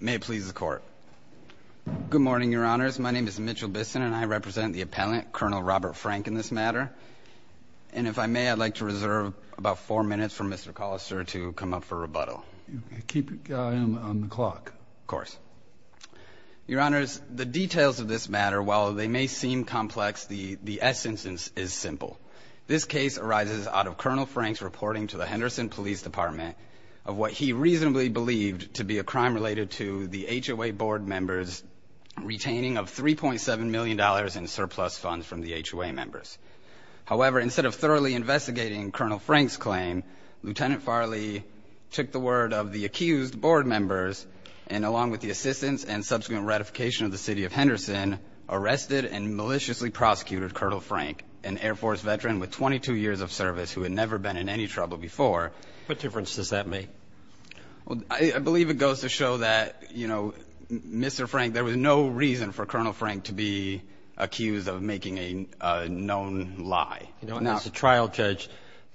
May it please the Court. Good morning, Your Honors. My name is Mitchell Bisson, and I represent the appellant, Colonel Robert Frank, in this matter. And if I may, I'd like to reserve about four minutes for Mr. Collister to come up for rebuttal. Keep your eye on the clock. Of course. Your Honors, the details of this matter, while they may seem complex, the essence is simple. This case arises out of Colonel Frank's reporting to the Henderson Police Department of what he reasonably believed to be a crime related to the HOA board members retaining of $3.7 million in surplus funds from the HOA members. However, instead of thoroughly investigating Colonel Frank's claim, Lieutenant Farley took the word of the accused board members, and along with the assistance and subsequent ratification of the City of Henderson, arrested and maliciously prosecuted Colonel Frank, an Air Force veteran with 22 years of service who had never been in any trouble before. What difference does that make? Well, I believe it goes to show that, you know, Mr. Frank, there was no reason for Colonel Frank to be accused of making a known lie. You know, as a trial judge,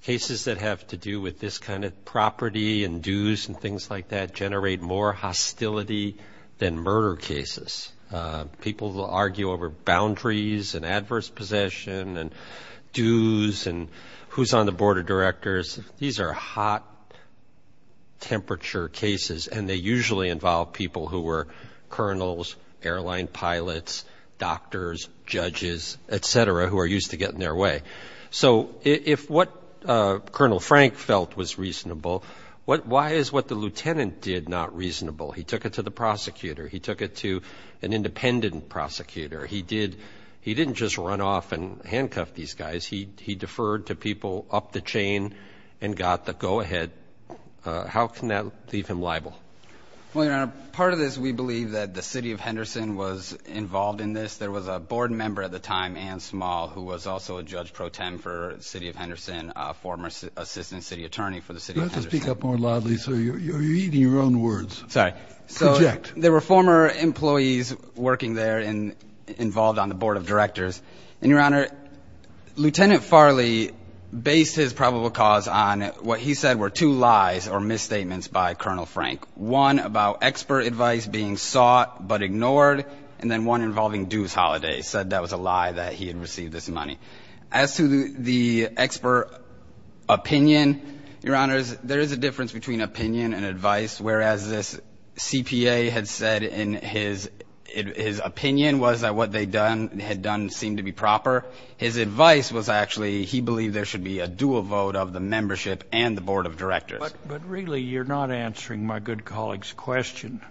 cases that have to do with this kind of property and dues and things like that generate more hostility than murder cases. People will argue over boundaries and adverse possession and dues and who's on the board of directors. These are hot temperature cases, and they usually involve people who were colonels, airline pilots, doctors, judges, etc., who are used to getting their way. So if what Colonel Frank felt was reasonable, why is what the lieutenant did not reasonable? He took it to the prosecutor. He took it to an independent prosecutor. He didn't just run off and handcuff these guys. He deferred to people up the chain and got the go-ahead. How can that leave him liable? Well, Your Honor, part of this, we believe that the City of Henderson was involved in this. There was a board member at the time, Ann Small, who was also a judge pro tem for the City of Henderson, a former assistant city attorney for the City of Henderson. You'll have to speak up more loudly, sir. You're eating your own words. Sorry. So there were former employees working there and involved on the board of directors. And, Your Honor, Lieutenant Farley based his probable cause on what he said were two lies or misstatements by Colonel Frank, one about expert advice being sought but ignored, and then one involving dues holidays, said that was a lie that he had received this money. As to the expert opinion, Your Honor, as this CPA had said in his opinion, was that what they had done seemed to be proper. His advice was actually he believed there should be a dual vote of the membership and the board of directors. But really, you're not answering my good colleague's question.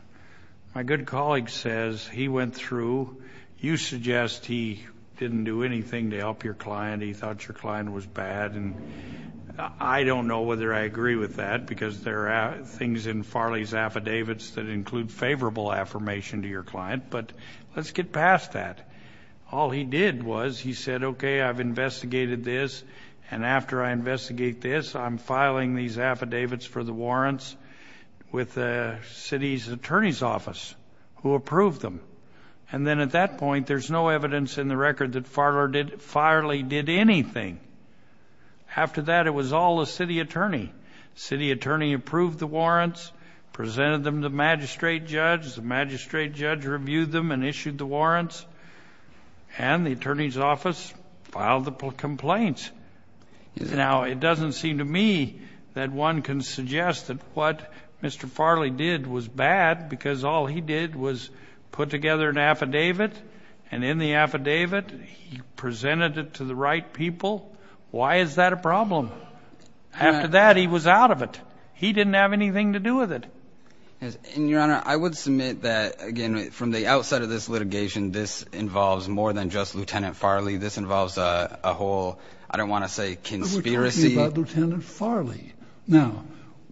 My good colleague says he went through. You suggest he didn't do anything to help your client. He thought your client was bad. And I don't know whether I agree with that because there are things in Farley's affidavits that include favorable affirmation to your client. But let's get past that. All he did was he said, Okay, I've investigated this. And after I investigate this, I'm filing these affidavits for the warrants with the city's attorney's office who approved them. And then at that point, there's no evidence in the record that Farley did anything. After that, it was all the city attorney. The city attorney approved the warrants, presented them to the magistrate judge. The magistrate judge reviewed them and issued the warrants. And the attorney's office filed the complaints. Now, it doesn't seem to me that one can suggest that what Mr. Farley did was bad because all he did was put together an affidavit. He presented it to the right people. Why is that a problem? After that, he was out of it. He didn't have anything to do with it. Yes. And your honor, I would submit that again, from the outside of this litigation, this involves more than just Lieutenant Farley. This involves a whole I don't want to say conspiracy. Lieutenant Farley. Now,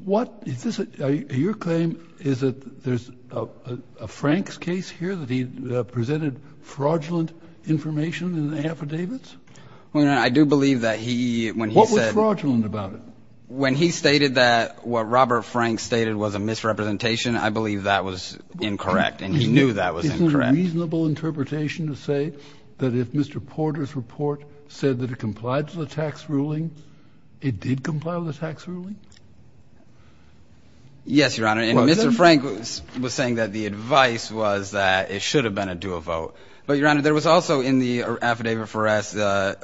what is this? Your claim is that there's a Frank's case here that he presented fraudulent information in the affidavits? I do believe that he when he said fraudulent about it, when he stated that what Robert Frank stated was a misrepresentation, I believe that was incorrect. And he knew that was a reasonable interpretation to say that if Mr. Porter's report said that it complied with the tax ruling, it did comply with the tax ruling. Yes, your honor. And Mr. Frank was saying that the advice was that it should have been a do a vote. But your honor, there was also in the affidavit for us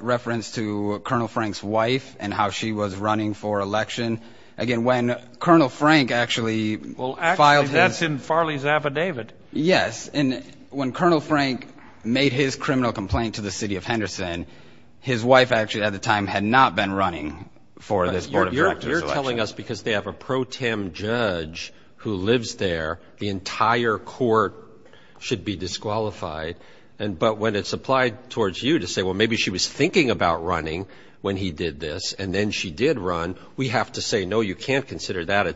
reference to Colonel Frank's wife and how she was running for election. Again, when Colonel Frank actually filed that's in Farley's affidavit. Yes. And when Colonel Frank made his criminal complaint to the city of Henderson, his wife actually at the time had not been running for this. You're telling us because they have a pro tem judge who lives there, the entire court should be disqualified, and but when it's applied towards you to say, well, maybe she was thinking about running when he did this and then she did run, we have to say, no, you can't consider that.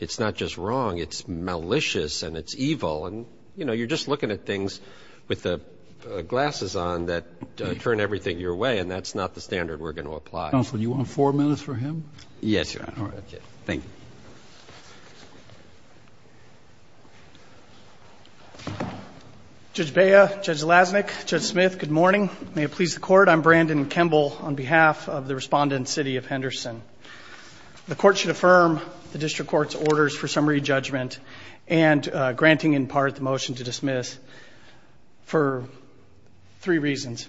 It's not just wrong. It's malicious and it's evil. And, you know, you're just looking at things with the glasses on that turn everything your way, and that's not the standard we're going to apply. Counsel, do you want four minutes for him? Yes, your honor. Thank you. Judge Bea, Judge Lasnik, Judge Smith, good morning. May it please the court. I'm Brandon Kemble on behalf of the respondent city of Henderson. The court should affirm the district court's orders for summary judgment and granting in part the motion to dismiss for three reasons.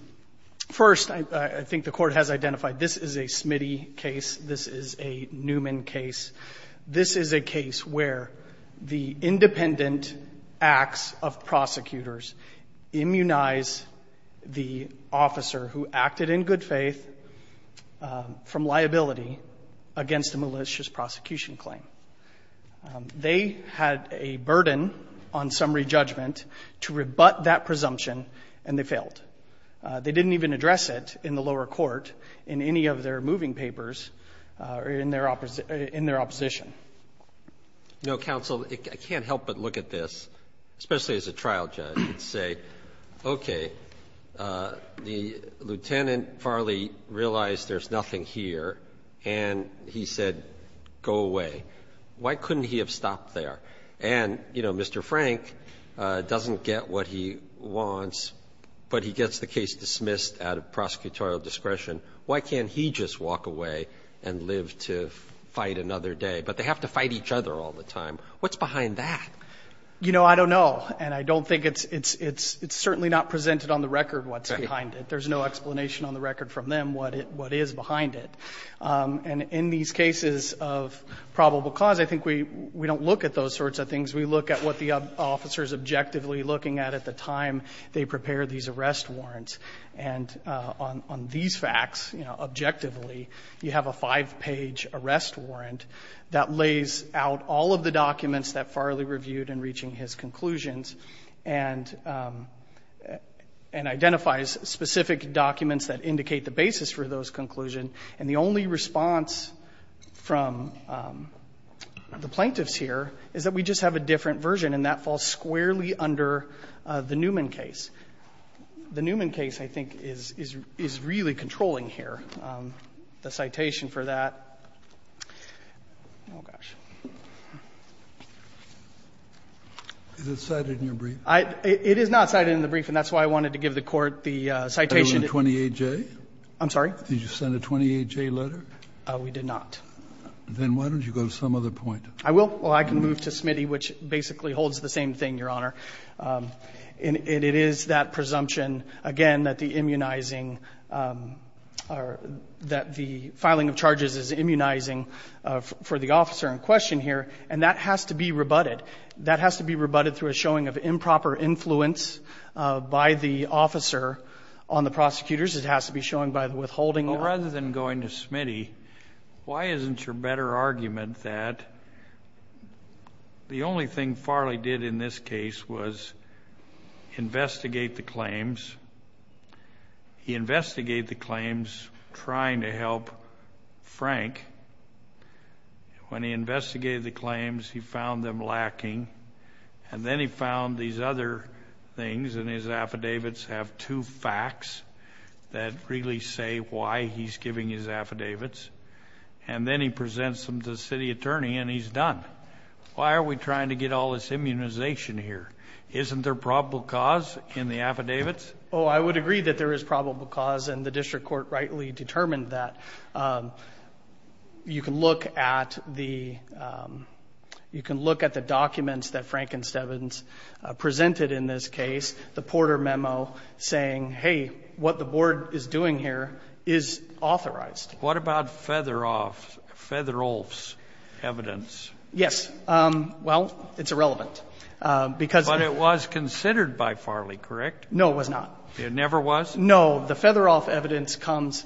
First, I think the court has identified this is a Smitty case. This is a Newman case. This is a case where the independent acts of prosecutors immunize the officer who acted in good faith from liability against a malicious prosecution claim. They had a burden on summary judgment, and they had a burden to rebut that presumption, and they failed. They didn't even address it in the lower court in any of their moving papers or in their opposition. No, counsel, I can't help but look at this, especially as a trial judge, and say, okay, the Lieutenant Farley realized there's nothing here, and he said, go away. Why couldn't he have stopped there? And, you know, Mr. Frank doesn't get a lot of what he wants, but he gets the case dismissed out of prosecutorial discretion. Why can't he just walk away and live to fight another day? But they have to fight each other all the time. What's behind that? You know, I don't know, and I don't think it's certainly not presented on the record what's behind it. There's no explanation on the record from them what is behind it. And in these cases of probable cause, I think we don't look at those sorts of things. We look at what were the officers objectively looking at at the time they prepared these arrest warrants. And on these facts, you know, objectively, you have a five-page arrest warrant that lays out all of the documents that Farley reviewed in reaching his conclusions and identifies specific documents that indicate the basis for those conclusions. And the only response from the plaintiffs here is that we just have a different version, and that falls squarely under the Newman case. The Newman case, I think, is really controlling here. The citation for that oh, gosh. It is not cited in the brief, and that's why I wanted to give the Court the citation Did you send a 28-J letter? We did not. Then why don't you go to some other point? I will. Well, I can move to Smitty, which basically holds the same thing, Your Honor. And it is that presumption, again, that the immunizing or that the filing of charges is immunizing for the officer in question here, and that has to be rebutted. That has to be rebutted through a showing of improper influence by the officer on the prosecutors. It has to be shown by the withholding of the prosecutor. The only thing Farley did in this case was investigate the claims. He investigated the claims trying to help Frank. When he investigated the claims, he found them lacking. And then he found these other things, and his affidavits have two facts that really say why he's giving his affidavits. And then he presents them to the city attorney, and he's done. Why are we trying to get all this immunization here? Isn't there probable cause in the affidavits? Oh, I would agree that there is probable cause, and the district court rightly determined that. You can look at the documents that Frankenstevens presented in this case, the Porter memo saying, hey, what the board is doing here is authorized. What about Featherolf's evidence? Yes. Well, it's irrelevant, because of the ---- But it was considered by Farley, correct? No, it was not. It never was? No. The Featherolf evidence comes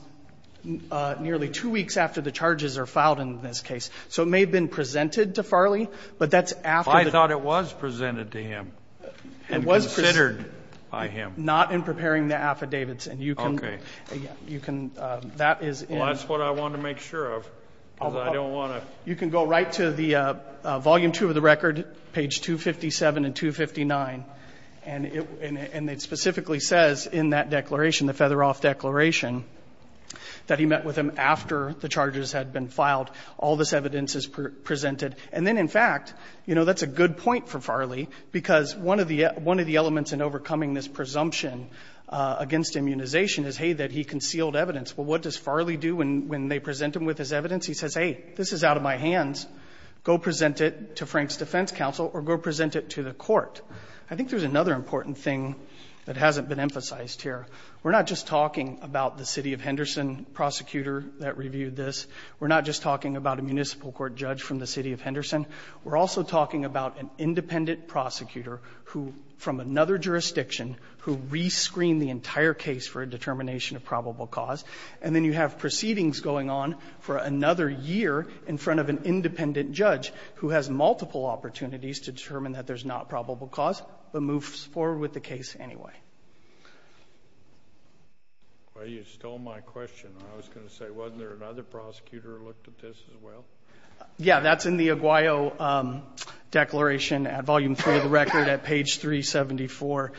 nearly two weeks after the charges are filed in this case. So it may have been presented to Farley, but that's after the ---- I thought it was presented to him and considered by him. Not in preparing the affidavits. And you can ---- Okay. You can ---- Well, that's what I want to make sure of, because I don't want to ---- You can go right to the volume two of the record, page 257 and 259, and it specifically says in that declaration, the Featherolf declaration, that he met with him after the charges had been filed. All this evidence is presented. And then, in fact, you know, that's a good point for Farley, because one of the elements in overcoming this presumption against immunization is, hey, that he concealed evidence. Well, what does Farley do when they present him with his evidence? He says, hey, this is out of my hands. Go present it to Frank's defense counsel, or go present it to the court. I think there's another important thing that hasn't been emphasized here. We're not just talking about the city of Henderson prosecutor that reviewed this. We're not just talking about a municipal court judge from the city of Henderson. We're also talking about an independent prosecutor who, from another jurisdiction, who rescreened the entire case for a determination of probable cause. And then you have proceedings going on for another year in front of an independent judge who has multiple opportunities to determine that there's not probable cause, but moves forward with the case anyway. Kennedy, you stole my question. I was going to say, wasn't there another prosecutor who looked at this as well? Yeah, that's in the Aguayo declaration at volume three of the record at page 374.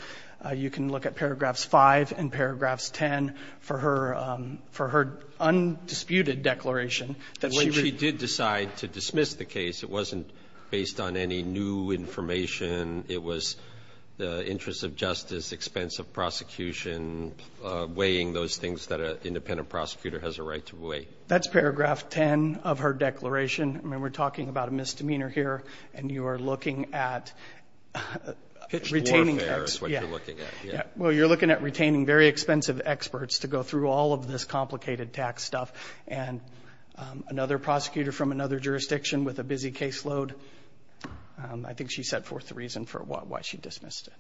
You can look at paragraphs 5 and paragraphs 10 for her undisputed declaration that she read. But when she did decide to dismiss the case, it wasn't based on any new information. It was the interest of justice, expense of prosecution, weighing those things that an independent prosecutor has a right to weigh. That's paragraph 10 of her declaration. I mean, we're talking about a misdemeanor here, and you are looking at retaining Well, you're looking at retaining very expensive experts to go through all of this complicated tax stuff. And another prosecutor from another jurisdiction with a busy caseload, I think she set forth the reason for why she dismissed it.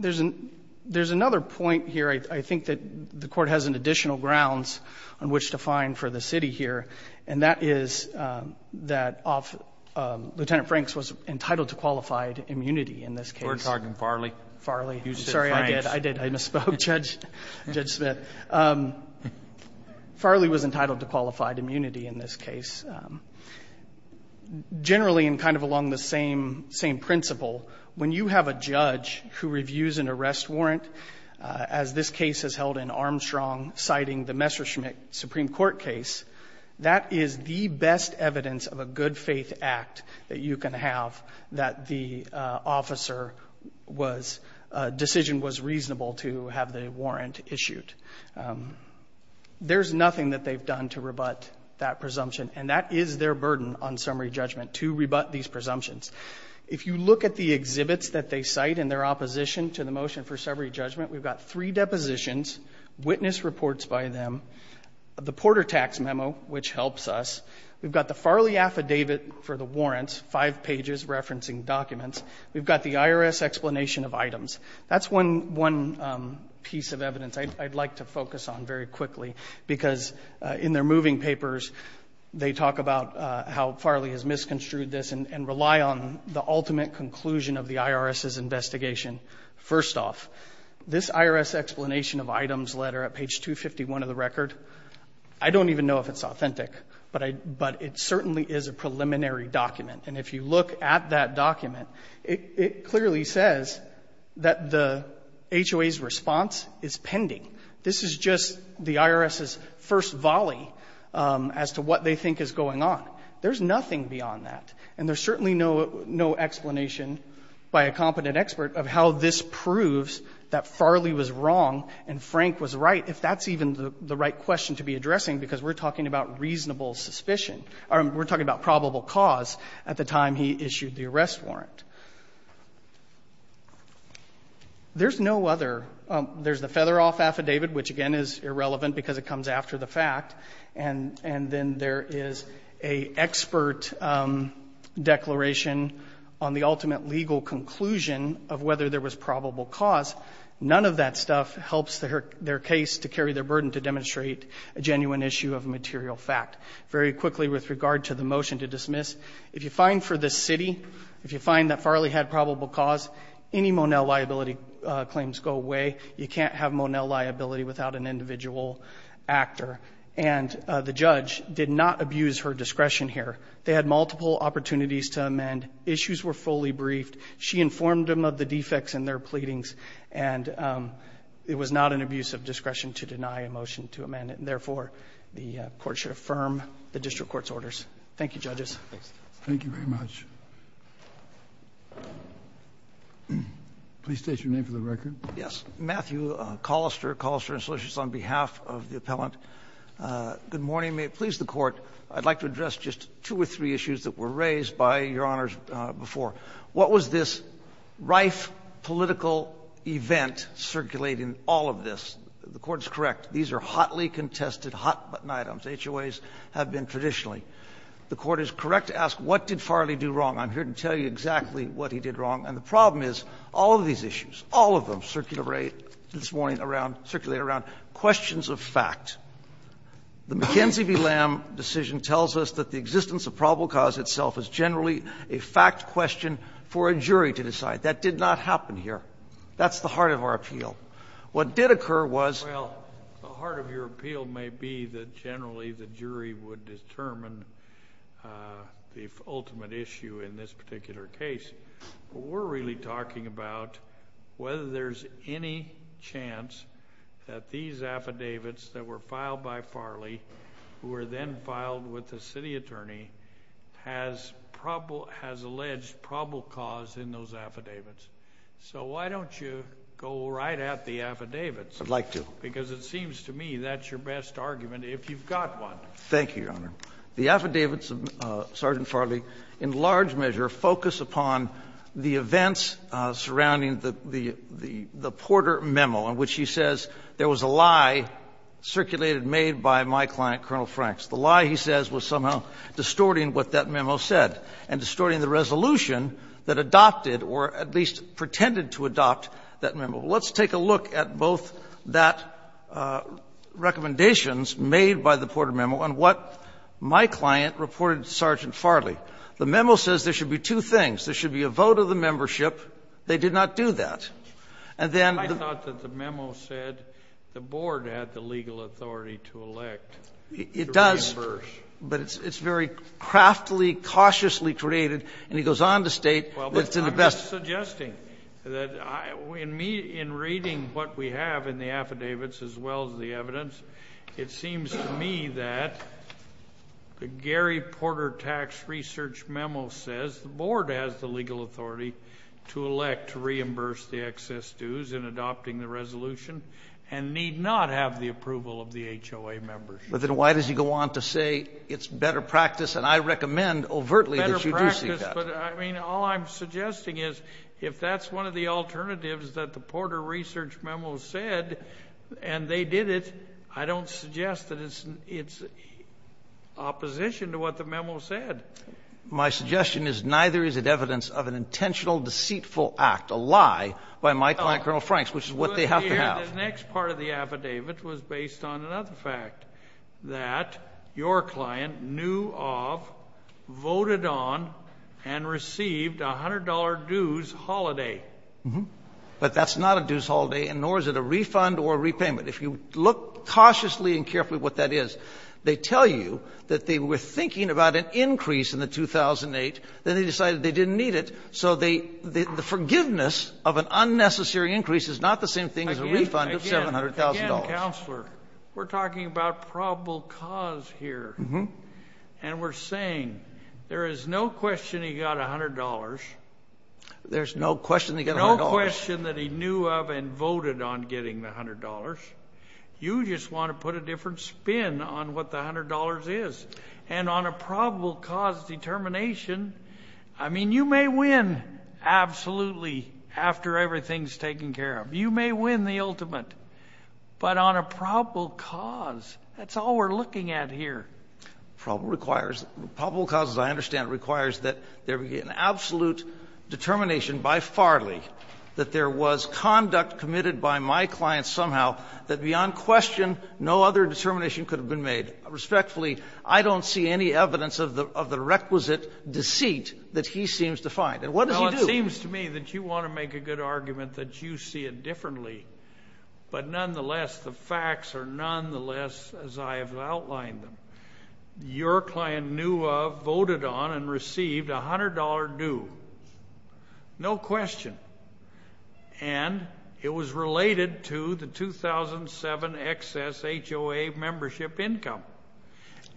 There's another point here I think that the Court has additional grounds on which to find for the city here, and that is that Lieutenant Franks was entitled to qualified immunity in this case. We're talking Farley. Farley. Sorry, I did. I did. I misspoke, Judge Smith. Farley was entitled to qualified immunity in this case. Generally, and kind of along the same principle, when you have a judge who reviews an arrest warrant, as this case is held in Armstrong, citing the Messerschmitt Supreme Court case, that is the best evidence of a good-faith act that you can have that the officer was — decision was reasonable to have the warrant issued. There's nothing that they've done to rebut that presumption, and that is their burden on summary judgment, to rebut these presumptions. If you look at the exhibits that they cite in their opposition to the motion for summary judgment, we've got three depositions, witness reports by them, the Porter Tax Memo, which helps us. We've got the Farley affidavit for the warrants, five pages referencing documents. We've got the IRS explanation of items. That's one piece of evidence I'd like to focus on very quickly, because in their moving papers, they talk about how Farley has misconstrued this and rely on this as the ultimate conclusion of the IRS's investigation. First off, this IRS explanation of items letter at page 251 of the record, I don't even know if it's authentic, but I — but it certainly is a preliminary document. And if you look at that document, it clearly says that the HOA's response is pending. This is just the IRS's first volley as to what they think is going on. There's nothing beyond that. And there's certainly no explanation by a competent expert of how this proves that Farley was wrong and Frank was right, if that's even the right question to be addressing, because we're talking about reasonable suspicion. We're talking about probable cause at the time he issued the arrest warrant. There's no other — there's the Featheroff affidavit, which, again, is irrelevant because it comes after the fact, and then there is an expert declaration on the ultimate legal conclusion of whether there was probable cause. None of that stuff helps their case to carry their burden to demonstrate a genuine issue of material fact. Very quickly, with regard to the motion to dismiss, if you find for this city, if you find that Farley had probable cause, any Monell liability claims go away. You can't have Monell liability without an individual actor. And the judge did not abuse her discretion here. They had multiple opportunities to amend. Issues were fully briefed. She informed them of the defects in their pleadings, and it was not an abuse of discretion to deny a motion to amend it, and therefore, the Court should affirm the district court's orders. Thank you, Judges. Thank you very much. Please state your name for the record. Yes. Matthew Collister, Collister & Solicitors, on behalf of the appellant. Good morning. May it please the Court. I'd like to address just two or three issues that were raised by Your Honors before. What was this rife political event circulating all of this? The Court is correct. These are hotly contested, hot-button items. HOAs have been traditionally. The Court is correct to ask, what did Farley do wrong? I'm here to tell you exactly what he did wrong. And the problem is all of these issues, all of them. And they are all circulated around questions of fact. The McKenzie v. Lamb decision tells us that the existence of probable cause itself is generally a fact question for a jury to decide. That did not happen here. That's the heart of our appeal. What did occur was the ultimate issue in this particular case. We're really talking about whether there's any chance that these affidavits that were filed by Farley, who were then filed with the city attorney, has alleged probable cause in those affidavits. So why don't you go right at the affidavits? I'd like to. Because it seems to me that's your best argument, if you've got one. Thank you, Your Honor. The affidavits of Sergeant Farley in large measure focus upon the events surrounding the Porter memo, in which he says there was a lie circulated, made by my client, Colonel Franks. The lie, he says, was somehow distorting what that memo said and distorting the resolution that adopted or at least pretended to adopt that memo. Let's take a look at both that recommendations made by the Porter memo and what my client reported to Sergeant Farley. The memo says there should be two things. There should be a vote of the membership. They did not do that. And then the ---- I thought that the memo said the Board had the legal authority to elect the members. It does. But it's very craftily, cautiously created. And he goes on to state that it's in the best ---- Well, but I'm just suggesting that in reading what we have in the affidavits as well as the evidence, it seems to me that the Gary Porter tax research memo says the Board has the legal authority to elect to reimburse the excess dues in adopting the resolution and need not have the approval of the HOA membership. But then why does he go on to say it's better practice? And I recommend overtly that you do see that. Better practice, but I mean, all I'm suggesting is if that's one of the alternatives that the Porter research memo said and they did it, I don't suggest that it's opposition to what the memo said. My suggestion is neither is it evidence of an intentional, deceitful act, a lie by my client, Colonel Franks, which is what they have to have. The next part of the affidavit was based on another fact, that your client knew of, voted on and received a $100 dues holiday. But that's not a dues holiday, and nor is it a refund or a repayment. If you look cautiously and carefully what that is, they tell you that they were thinking about an increase in the 2008, then they decided they didn't need it, so the forgiveness of an unnecessary increase is not the same thing as a refund of $700,000. Again, counselor, we're talking about probable cause here. And we're saying, there is no question he got $100. There's no question he got $100. No question that he knew of and voted on getting the $100. You just want to put a different spin on what the $100 is. And on a probable cause determination, I mean, you may win, absolutely, after everything's taken care of. You may win the ultimate. But on a probable cause, that's all we're looking at here. Probable cause, as I understand it, requires that there be an absolute determination by Farley that there was conduct committed by my client somehow that beyond question no other determination could have been made. Respectfully, I don't see any evidence of the requisite deceit that he seems to find. And what does he do? It seems to me that you want to make a good argument that you see it differently. But nonetheless, the facts are nonetheless, as I have outlined them, your client knew of, voted on, and received a $100 due. No question. And it was related to the 2007 excess HOA membership income.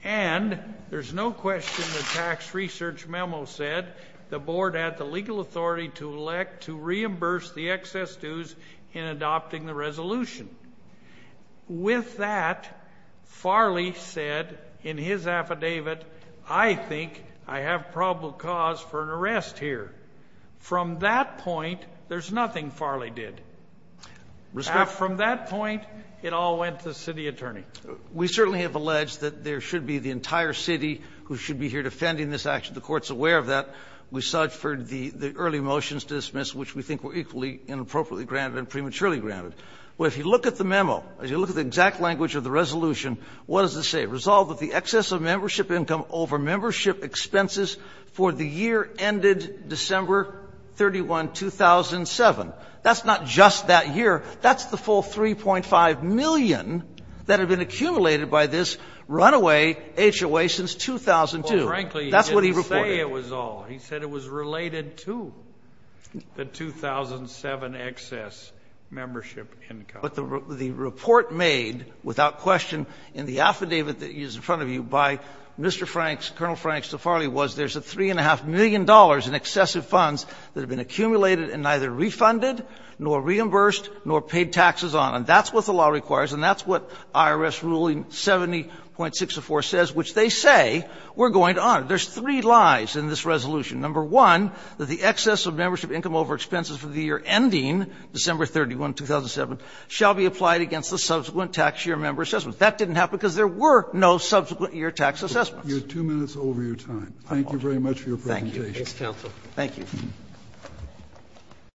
And there's no question the tax research memo said the board had the legal authority to elect to reimburse the excess dues in adopting the resolution. With that, Farley said in his affidavit, I think I have probable cause for an arrest here. From that point, there's nothing Farley did. From that point, it all went to the city attorney. We certainly have alleged that there should be the entire city who should be here defending this action. The Court's aware of that. We saw it for the early motions dismissed, which we think were equally inappropriately granted and prematurely granted. Well, if you look at the memo, if you look at the exact language of the resolution, what does it say? Resolved that the excess of membership income over membership expenses for the year ended December 31, 2007. That's not just that year. That's the full $3.5 million that had been accumulated by this runaway HOA since 2002. That's what he reported. Well, frankly, he didn't say it was all. He said it was related to the 2007 excess membership income. But the report made without question in the affidavit that is in front of you by Mr. Franks, Colonel Franks to Farley, was there's a $3.5 million in excessive funds that had been accumulated and neither refunded nor reimbursed nor paid taxes on. And that's what the law requires, and that's what IRS Ruling 70.604 says, which they say we're going to honor. There's three lies in this resolution. Number one, that the excess of membership income over expenses for the year ending December 31, 2007 shall be applied against the subsequent tax year member assessments. That didn't happen because there were no subsequent year tax assessments. Kennedy, you have two minutes over your time. Thank you very much for your presentation. Thank you. Thank you.